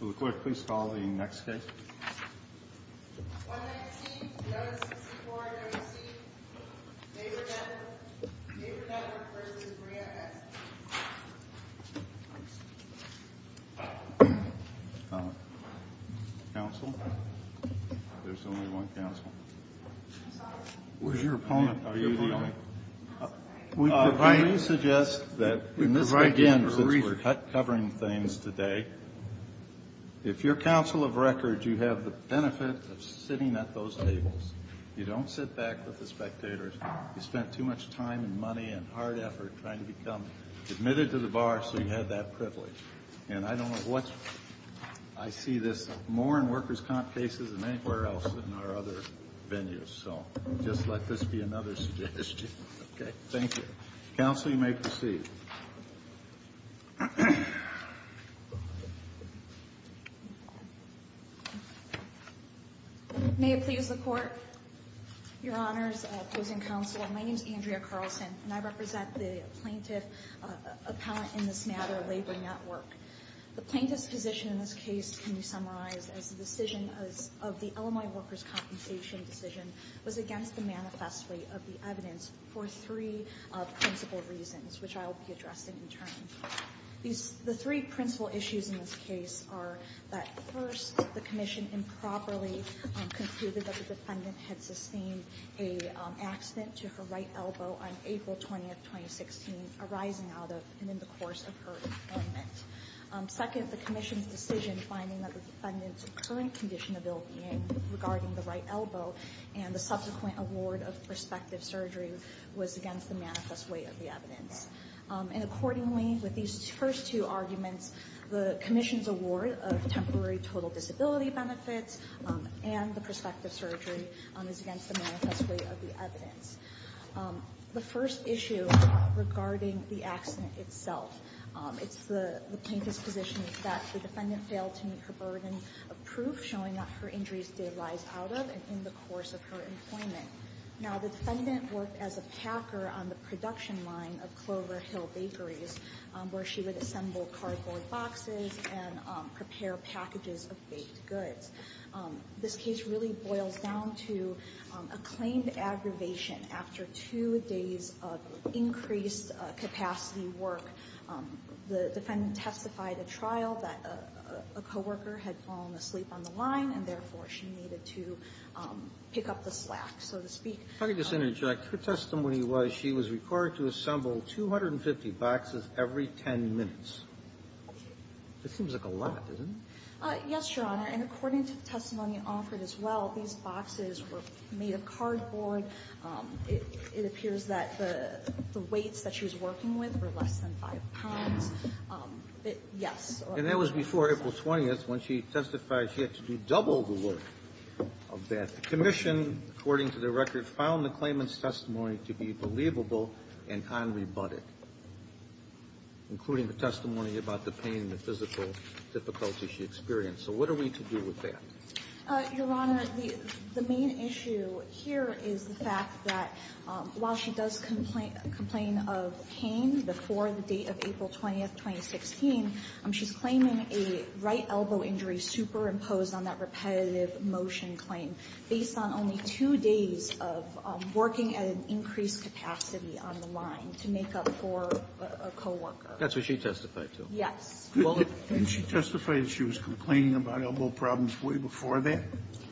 Will the clerk please call the next case? 116-1164-9C, Neighbor Network v. Brea S. Counsel? There's only one counsel. I'm sorry? Where's your opponent? Are you the only one? I'm sorry. Would you suggest that in this, again, since we're covering things today, if you're counsel of record, you have the benefit of sitting at those tables. You don't sit back with the spectators. You spent too much time and money and hard effort trying to become admitted to the bar so you had that privilege. And I don't know what's – I see this more in workers' comp cases than anywhere else in our other venues. So just let this be another suggestion. Okay. Thank you. Counsel, you may proceed. May it please the Court? Your Honors, opposing counsel, my name is Andrea Carlson, and I represent the plaintiff appellant in this matter, Labor Network. The plaintiff's position in this case can be summarized as the decision of the Illinois workers' compensation decision was against the manifest weight of the evidence for three principal reasons, which I will be addressing in turn. The three principal issues in this case are that, first, the commission improperly concluded that the defendant had sustained an accident to her right elbow on April 20, 2016, arising out of and in the course of her employment. Second, the commission's decision finding that the defendant's current condition of ill-being regarding the right elbow and the subsequent award of prospective surgery was against the manifest weight of the evidence. And accordingly, with these first two arguments, the commission's award of temporary total disability benefits and the prospective surgery is against the manifest weight of the evidence. The first issue regarding the accident itself, it's the plaintiff's position that the defendant failed to meet her burden of proof, showing that her injuries did rise out of and in the course of her employment. Now, the defendant worked as a packer on the production line of Clover Hill Bakeries, where she would assemble cardboard boxes and prepare packages of baked goods. This case really boils down to a claimed aggravation after two days of increased capacity work. The defendant testified at trial that a coworker had fallen asleep on the line, and therefore, she needed to pick up the slack, so to speak. Kennedy, your testimony was she was required to assemble 250 boxes every 10 minutes. It seems like a lot, doesn't it? Yes, Your Honor. And according to the testimony offered as well, these boxes were made of cardboard. It appears that the weights that she was working with were less than 5 pounds. Yes. And that was before April 20th when she testified she had to do double the work of that. The commission, according to the record, found the claimant's testimony to be believable and unrebutted, including the testimony about the pain, the physical difficulty she experienced. So what are we to do with that? Your Honor, the main issue here is the fact that while she does complain of pain before the date of April 20th, 2016, she's claiming a right elbow injury superimposed on that repetitive motion claim based on only two days of working at an increased capacity on the line to make up for a coworker. That's what she testified to. Yes. Didn't she testify that she was complaining about elbow problems way before that?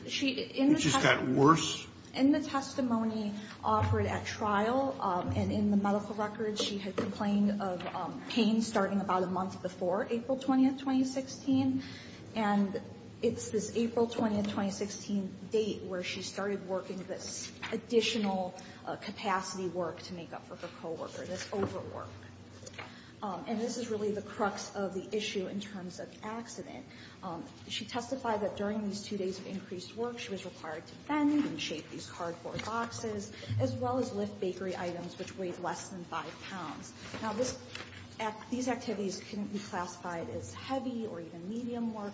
She in the testimony. It just got worse? In the testimony offered at trial and in the medical record, she had complained of pain starting about a month before April 20th, 2016. And it's this April 20th, 2016 date where she started working this additional capacity work to make up for her coworker, this overwork. And this is really the crux of the issue in terms of accident. She testified that during these two days of increased work, she was required to bend and shape these cardboard boxes, as well as lift bakery items, which weighed less than five pounds. Now, these activities couldn't be classified as heavy or even medium work.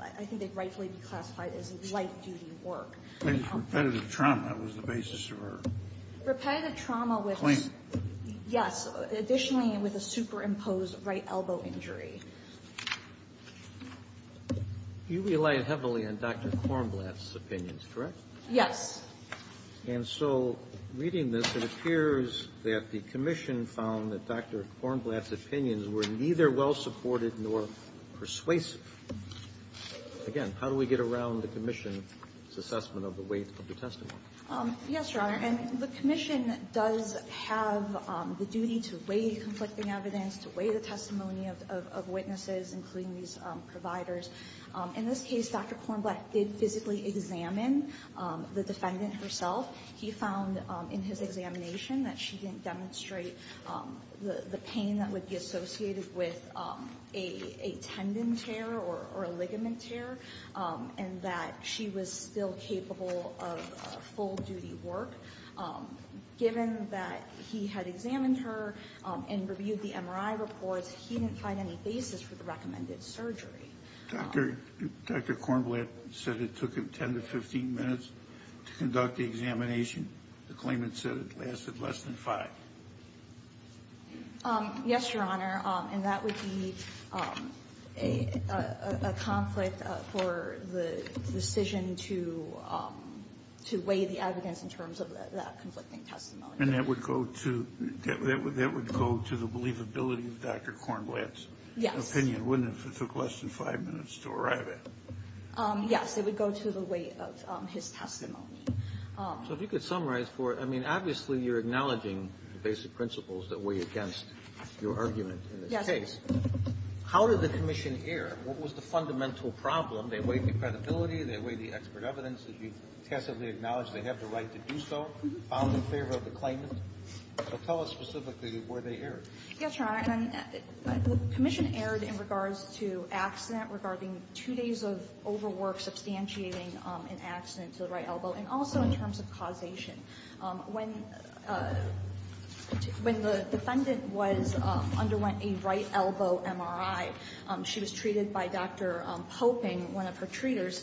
I think they'd rightfully be classified as light-duty work. Repetitive trauma was the basis of her complaint. Repetitive trauma was Complaint. Yes. Additionally, with a superimposed right elbow injury. You relied heavily on Dr. Kornblatt's opinions, correct? Yes. And so, reading this, it appears that the commission found that Dr. Kornblatt's opinions were neither well-supported nor persuasive. Again, how do we get around the commission's assessment of the weight of the testimony? Yes, Your Honor. And the commission does have the duty to weigh the conflicting evidence, to weigh the testimony of witnesses, including these providers. In this case, Dr. Kornblatt did physically examine the defendant herself. He found in his examination that she didn't demonstrate the pain that would be associated with a tendon tear or a ligament tear, and that she was still capable of full-duty work. Given that he had examined her and reviewed the MRI reports, he didn't find any basis for the recommended surgery. Dr. Kornblatt said it took him 10 to 15 minutes to conduct the examination. The claimant said it lasted less than five. Yes, Your Honor. And that would be a conflict for the decision to weigh the evidence in terms of that conflicting testimony. And that would go to the believability of Dr. Kornblatt's opinion, wouldn't it, if it took less than five minutes to arrive at? Yes. It would go to the weight of his testimony. So if you could summarize for us. I mean, obviously, you're acknowledging the basic principles that weigh against your argument in this case. Yes. How did the commission err? What was the fundamental problem? They weighed the credibility. They weighed the expert evidence. Did you passively acknowledge they have the right to do so, found in favor of the claimant? So tell us specifically where they erred. Yes, Your Honor. The commission erred in regards to accident, regarding two days of overwork, substantiating an accident to the right elbow, and also in terms of causation. When the defendant underwent a right elbow MRI, she was treated by Dr. Poping, one of her treaters.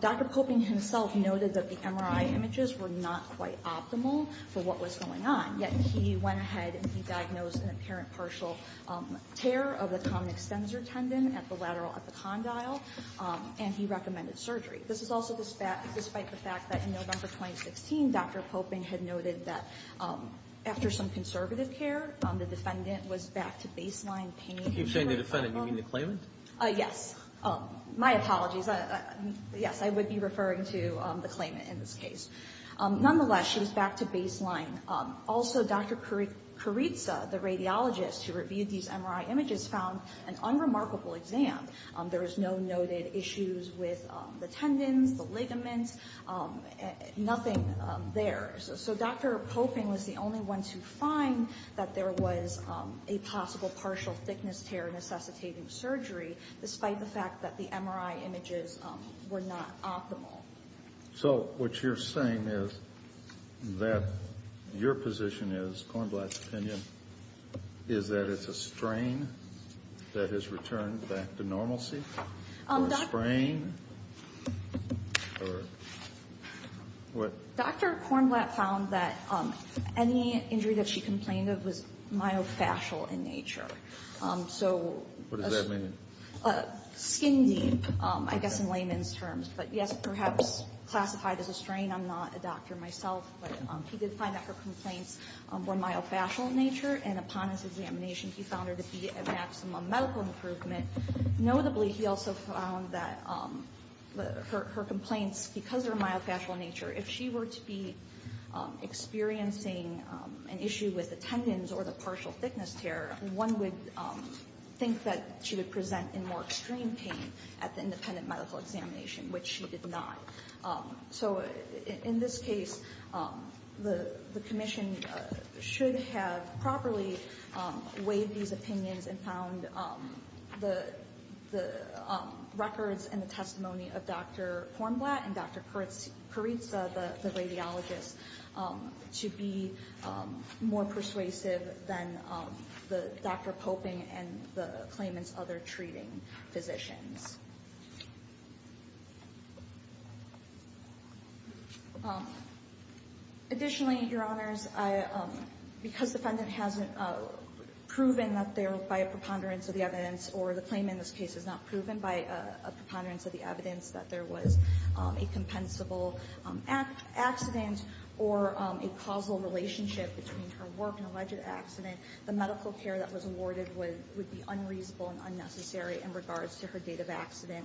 Dr. Poping himself noted that the MRI images were not quite optimal for what was going on, yet he went ahead and he diagnosed an apparent partial tear of the surgery. This is also despite the fact that in November 2016, Dr. Poping had noted that after some conservative care, the defendant was back to baseline pain. You keep saying the defendant. You mean the claimant? Yes. My apologies. Yes, I would be referring to the claimant in this case. Nonetheless, she was back to baseline. Also, Dr. Carizza, the radiologist who reviewed these MRI images, found an unremarkable exam. There was no noted issues with the tendons, the ligaments, nothing there. So Dr. Poping was the only one to find that there was a possible partial thickness tear necessitating surgery, despite the fact that the MRI images were not optimal. So what you're saying is that your position is, Cornblatt's opinion, is that it's a brain or what? Dr. Cornblatt found that any injury that she complained of was myofascial in nature. What does that mean? Skin deep, I guess in layman's terms. But, yes, perhaps classified as a strain. I'm not a doctor myself. But he did find that her complaints were myofascial in nature. And upon his examination, he found her to be at maximum medical improvement. Notably, he also found that her complaints, because of her myofascial nature, if she were to be experiencing an issue with the tendons or the partial thickness tear, one would think that she would present in more extreme pain at the independent medical examination, which she did not. So in this case, the commission should have properly weighed these opinions and found the records and the testimony of Dr. Cornblatt and Dr. Carizza, the radiologist, to be more persuasive than Dr. Poping and the claimant's other treating physicians. Additionally, Your Honors, because the defendant hasn't proven that there, by a preponderance of the evidence, or the claimant in this case has not proven by a preponderance of the evidence that there was a compensable accident or a causal relationship between her work and alleged accident, the medical care that was awarded would be unreasonable and unnecessary in regards to her date of accident.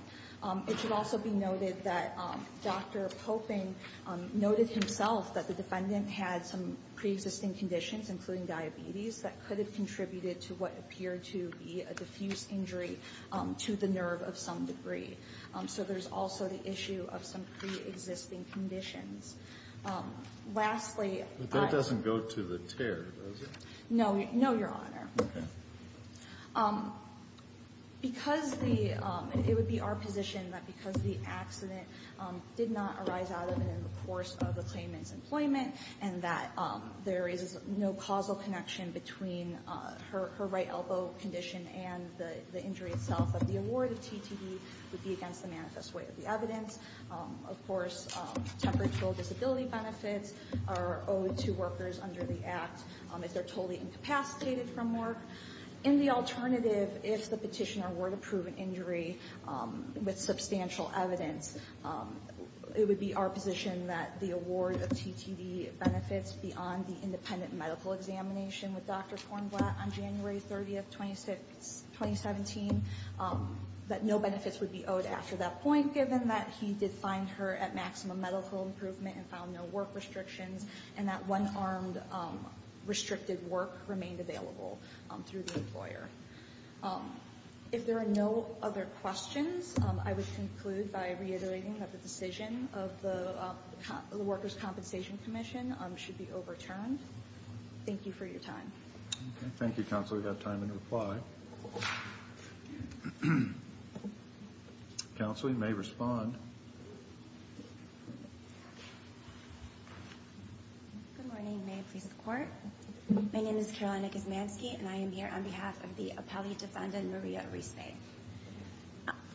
It should also be noted that Dr. Poping noted himself that the defendant had some preexisting conditions, including diabetes, that could have contributed to what appeared to be a diffuse injury to the nerve of some degree. So there's also the issue of some preexisting conditions. Lastly, I don't go to the tear. No, Your Honor. It would be our position that because the accident did not arise out of and in the course of the claimant's employment and that there is no causal connection between her right elbow condition and the injury itself, that the award of TTE would be against the manifest way of the evidence. Of course, temporary disability benefits are owed to workers under the Act. If they're totally incapacitated from work. In the alternative, if the petitioner were to prove an injury with substantial evidence, it would be our position that the award of TTE benefits beyond the independent medical examination with Dr. Kornblatt on January 30, 2017, that no benefits would be owed after that point, given that he did find her at maximum medical improvement and found no work restrictions and that one armed restricted work remained available through the employer. If there are no other questions, I would conclude by reiterating that the decision of the Workers' Compensation Commission should be overturned. Thank you for your time. Thank you, Counselor. We have time in reply. Counselor, you may respond. Good morning. May it please the Court. My name is Carolina Gizmanski and I am here on behalf of the appellee defendant Maria Rees-Mayne.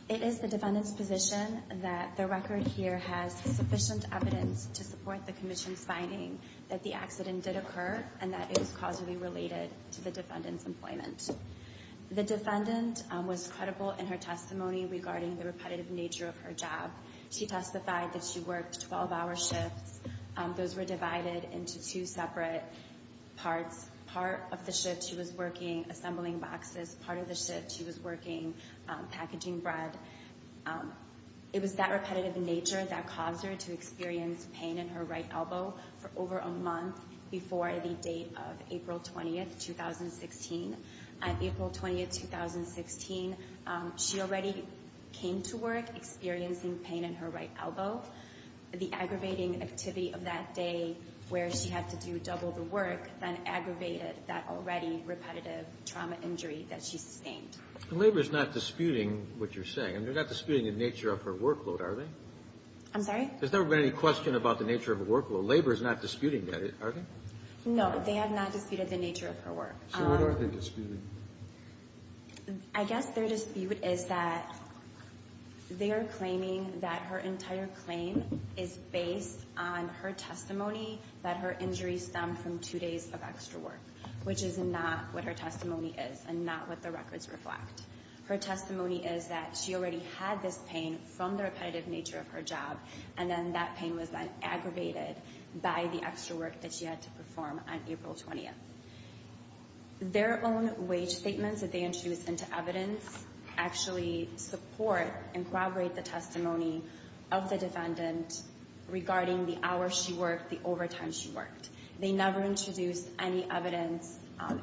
It is the defendant's position that the record here has sufficient evidence to support the Commission's finding that the accident did occur and that it was positively related to the defendant's employment. The defendant was credible in her testimony regarding the repetitive nature of her job. She testified that she worked 12-hour shifts. Those were divided into two separate parts. Part of the shift she was working assembling boxes. Part of the shift she was working packaging bread. It was that repetitive nature that caused her to experience pain in her right elbow. The aggravating activity of that day where she had to do double the work then aggravated that already repetitive trauma injury that she sustained. Labor is not disputing what you're saying. They're not disputing the nature of her workload, are they? I'm sorry? There's never been any question about the nature of her workload. Labor is not disputing that, are they? No, they have not disputed the nature of her workload. So what are they disputing? I guess their dispute is that they are claiming that her entire claim is based on her testimony that her injury stemmed from two days of extra work, which is not what her testimony is and not what the records reflect. Her testimony is that she already had this pain from the repetitive nature of her job and then that pain was then aggravated by the extra work that she had to perform on April 20th. Their own wage statements that they introduced into evidence actually support and corroborate the testimony of the defendant regarding the hours she worked, the overtime she worked. They never introduced any evidence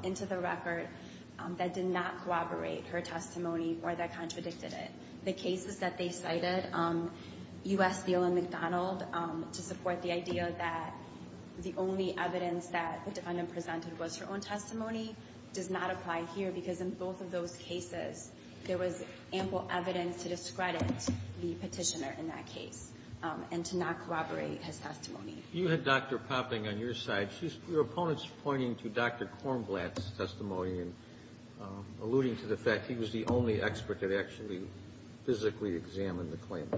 into the record that did not corroborate her testimony or that contradicted it. The cases that they cited, U.S. Steel and McDonald, to support the idea that the only evidence that the defendant presented was her own testimony does not apply here because in both of those cases, there was ample evidence to discredit the Petitioner in that case and to not corroborate his testimony. You had Dr. Popping on your side. Your opponent's pointing to Dr. Kornblatt's testimony and alluding to the fact he was the only expert that actually physically examined the claim.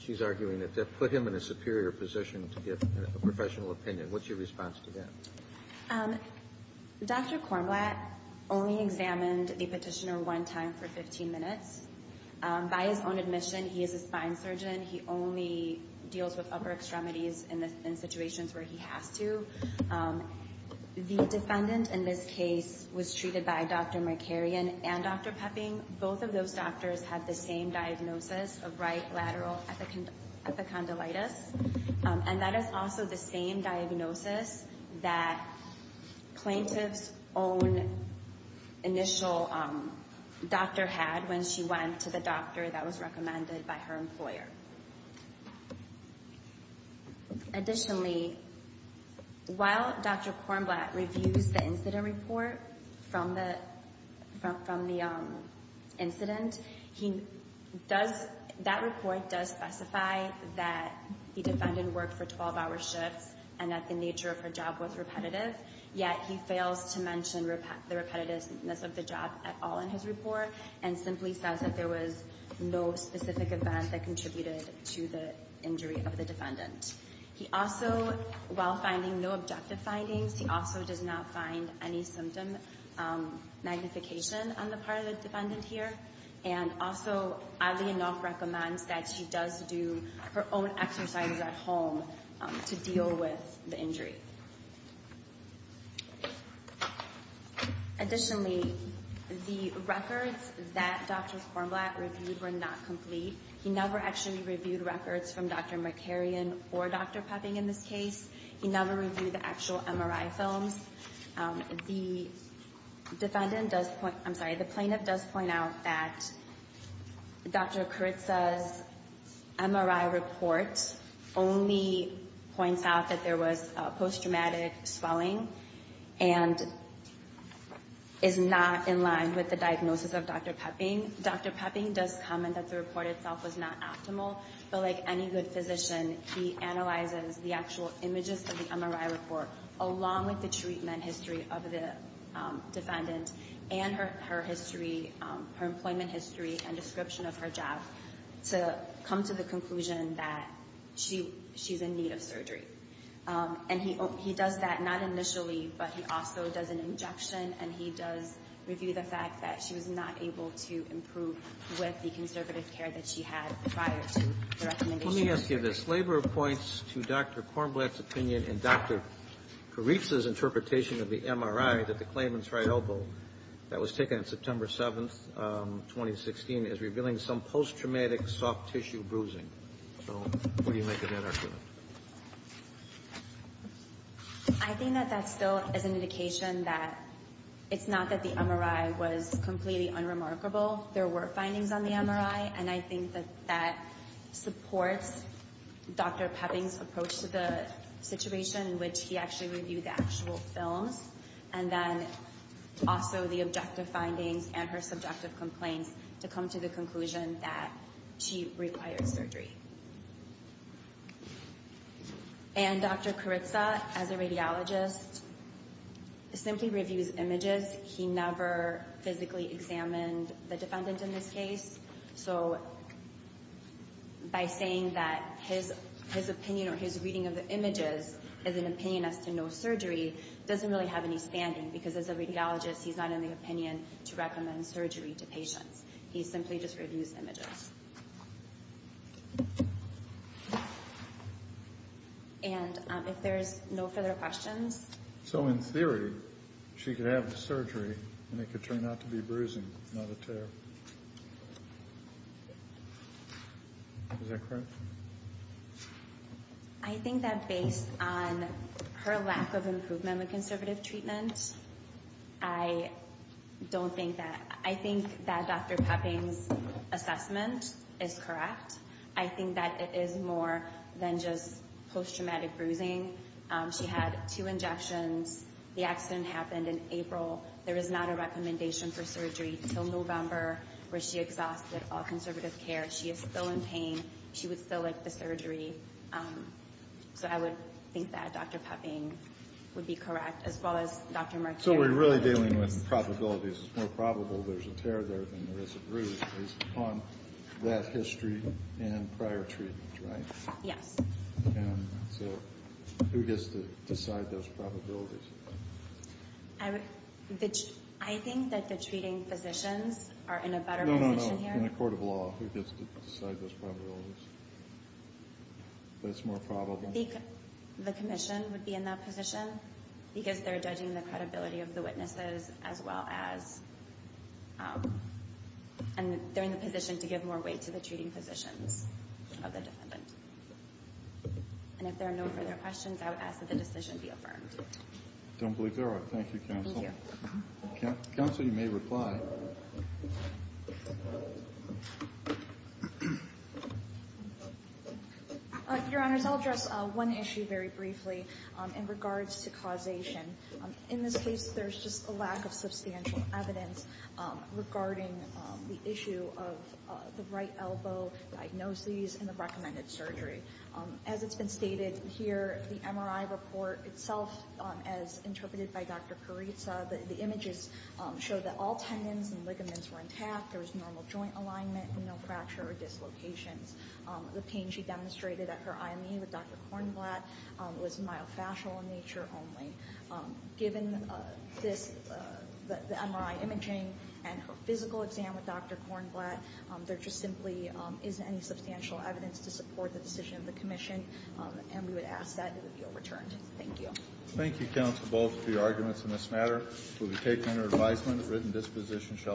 She's arguing that that put him in a superior position to get a professional opinion. What's your response to that? Dr. Kornblatt only examined the Petitioner one time for 15 minutes. By his own admission, he is a spine surgeon. He only deals with upper extremities in situations where he has to. The defendant in this case was treated by Dr. Markarian and Dr. Popping. Both of those doctors had the same diagnosis of right lateral epicondylitis, and that is also the same diagnosis that plaintiff's own initial doctor had when she went to the doctor that was recommended by her employer. Additionally, while Dr. Kornblatt reviews the incident report from the incident, that report does specify that the defendant worked for 12-hour shifts and that the nature of her job was repetitive, yet he fails to mention the repetitiveness of the job at all in his report and simply says that there was no specific event that contributed to the injury of the defendant. He also, while finding no objective findings, he also does not find any symptom magnification on the part of the defendant here, and also oddly enough recommends that she does do her own exercises at home to deal with the injury. Additionally, the records that Dr. Kornblatt reviewed were not complete. He never actually reviewed records from Dr. Markarian or Dr. Popping in this case. He never reviewed the actual MRI films. The defendant does point, I'm sorry, the plaintiff does point out that Dr. Kuritsa's MRI report only points out that there was post-traumatic swelling and is not in line with the diagnosis of Dr. Popping. Dr. Popping does comment that the report itself was not optimal, but like any good physician, he analyzes the actual images of the MRI report along with the treatment history of the defendant and her history, her employment history and description of her job to come to the conclusion that she's in need of surgery. And he does that not initially, but he also does an injection, and he does review the fact that she was not able to improve with the conservative care that she had prior to the recommendation. Let me ask you this. Labor points to Dr. Kornblatt's opinion and Dr. Kuritsa's interpretation of the MRI that the claimant's right elbow that was taken on September 7th, 2016, is revealing some post-traumatic soft tissue bruising. So what do you make of that argument? I think that that's still an indication that it's not that the MRI was completely unremarkable. There were findings on the MRI, and I think that that supports Dr. Popping's approach to the situation in which he actually reviewed the actual films, and then also the objective findings and her subjective complaints to come to the conclusion that she required surgery. And Dr. Kuritsa, as a radiologist, simply reviews images. He never physically examined the defendant in this case. So by saying that his opinion or his reading of the images is an opinion as to no surgery doesn't really have any standing because, as a radiologist, he's not in the opinion to recommend surgery to patients. He simply just reviews images. And if there's no further questions? So in theory, she could have the surgery, and it could turn out to be bruising, not a tear. Is that correct? I think that based on her lack of improvement with conservative treatment, I don't think that. I think that Dr. Popping's assessment is correct. I think that it is more than just post-traumatic bruising. She had two injections. The accident happened in April. There is not a recommendation for surgery until November, where she exhausted all conservative care. She is still in pain. She would still like the surgery. So I would think that Dr. Popping would be correct, as well as Dr. Martire. So we're really dealing with probabilities. It's more probable there's a tear there than there is a bruise based upon that history and prior treatment, right? Yes. So who gets to decide those probabilities? I think that the treating physicians are in a better position here. In a court of law, who gets to decide those probabilities. But it's more probable. The commission would be in that position because they're judging the credibility of the witnesses as well as they're in the position to give more weight to the treating physicians of the defendant. And if there are no further questions, I would ask that the decision be affirmed. I don't believe there are. Thank you, counsel. Thank you. Counsel, you may reply. Your Honors, I'll address one issue very briefly in regards to causation. In this case, there's just a lack of substantial evidence regarding the issue of the right elbow diagnoses and the recommended surgery. As it's been stated here, the MRI report itself, as interpreted by Dr. Carizza, the images show that all tendons and ligaments were intact. There was normal joint alignment and no fracture or dislocations. The pain she demonstrated at her IME with Dr. Kornblatt was myofascial in nature only. Given the MRI imaging and her physical exam with Dr. Kornblatt, there just simply isn't any substantial evidence to support the decision of the commission, and we would ask that it be overturned. Thank you. Thank you, counsel, both for your arguments in this matter. We'll be taking your advisement. The written disposition shall be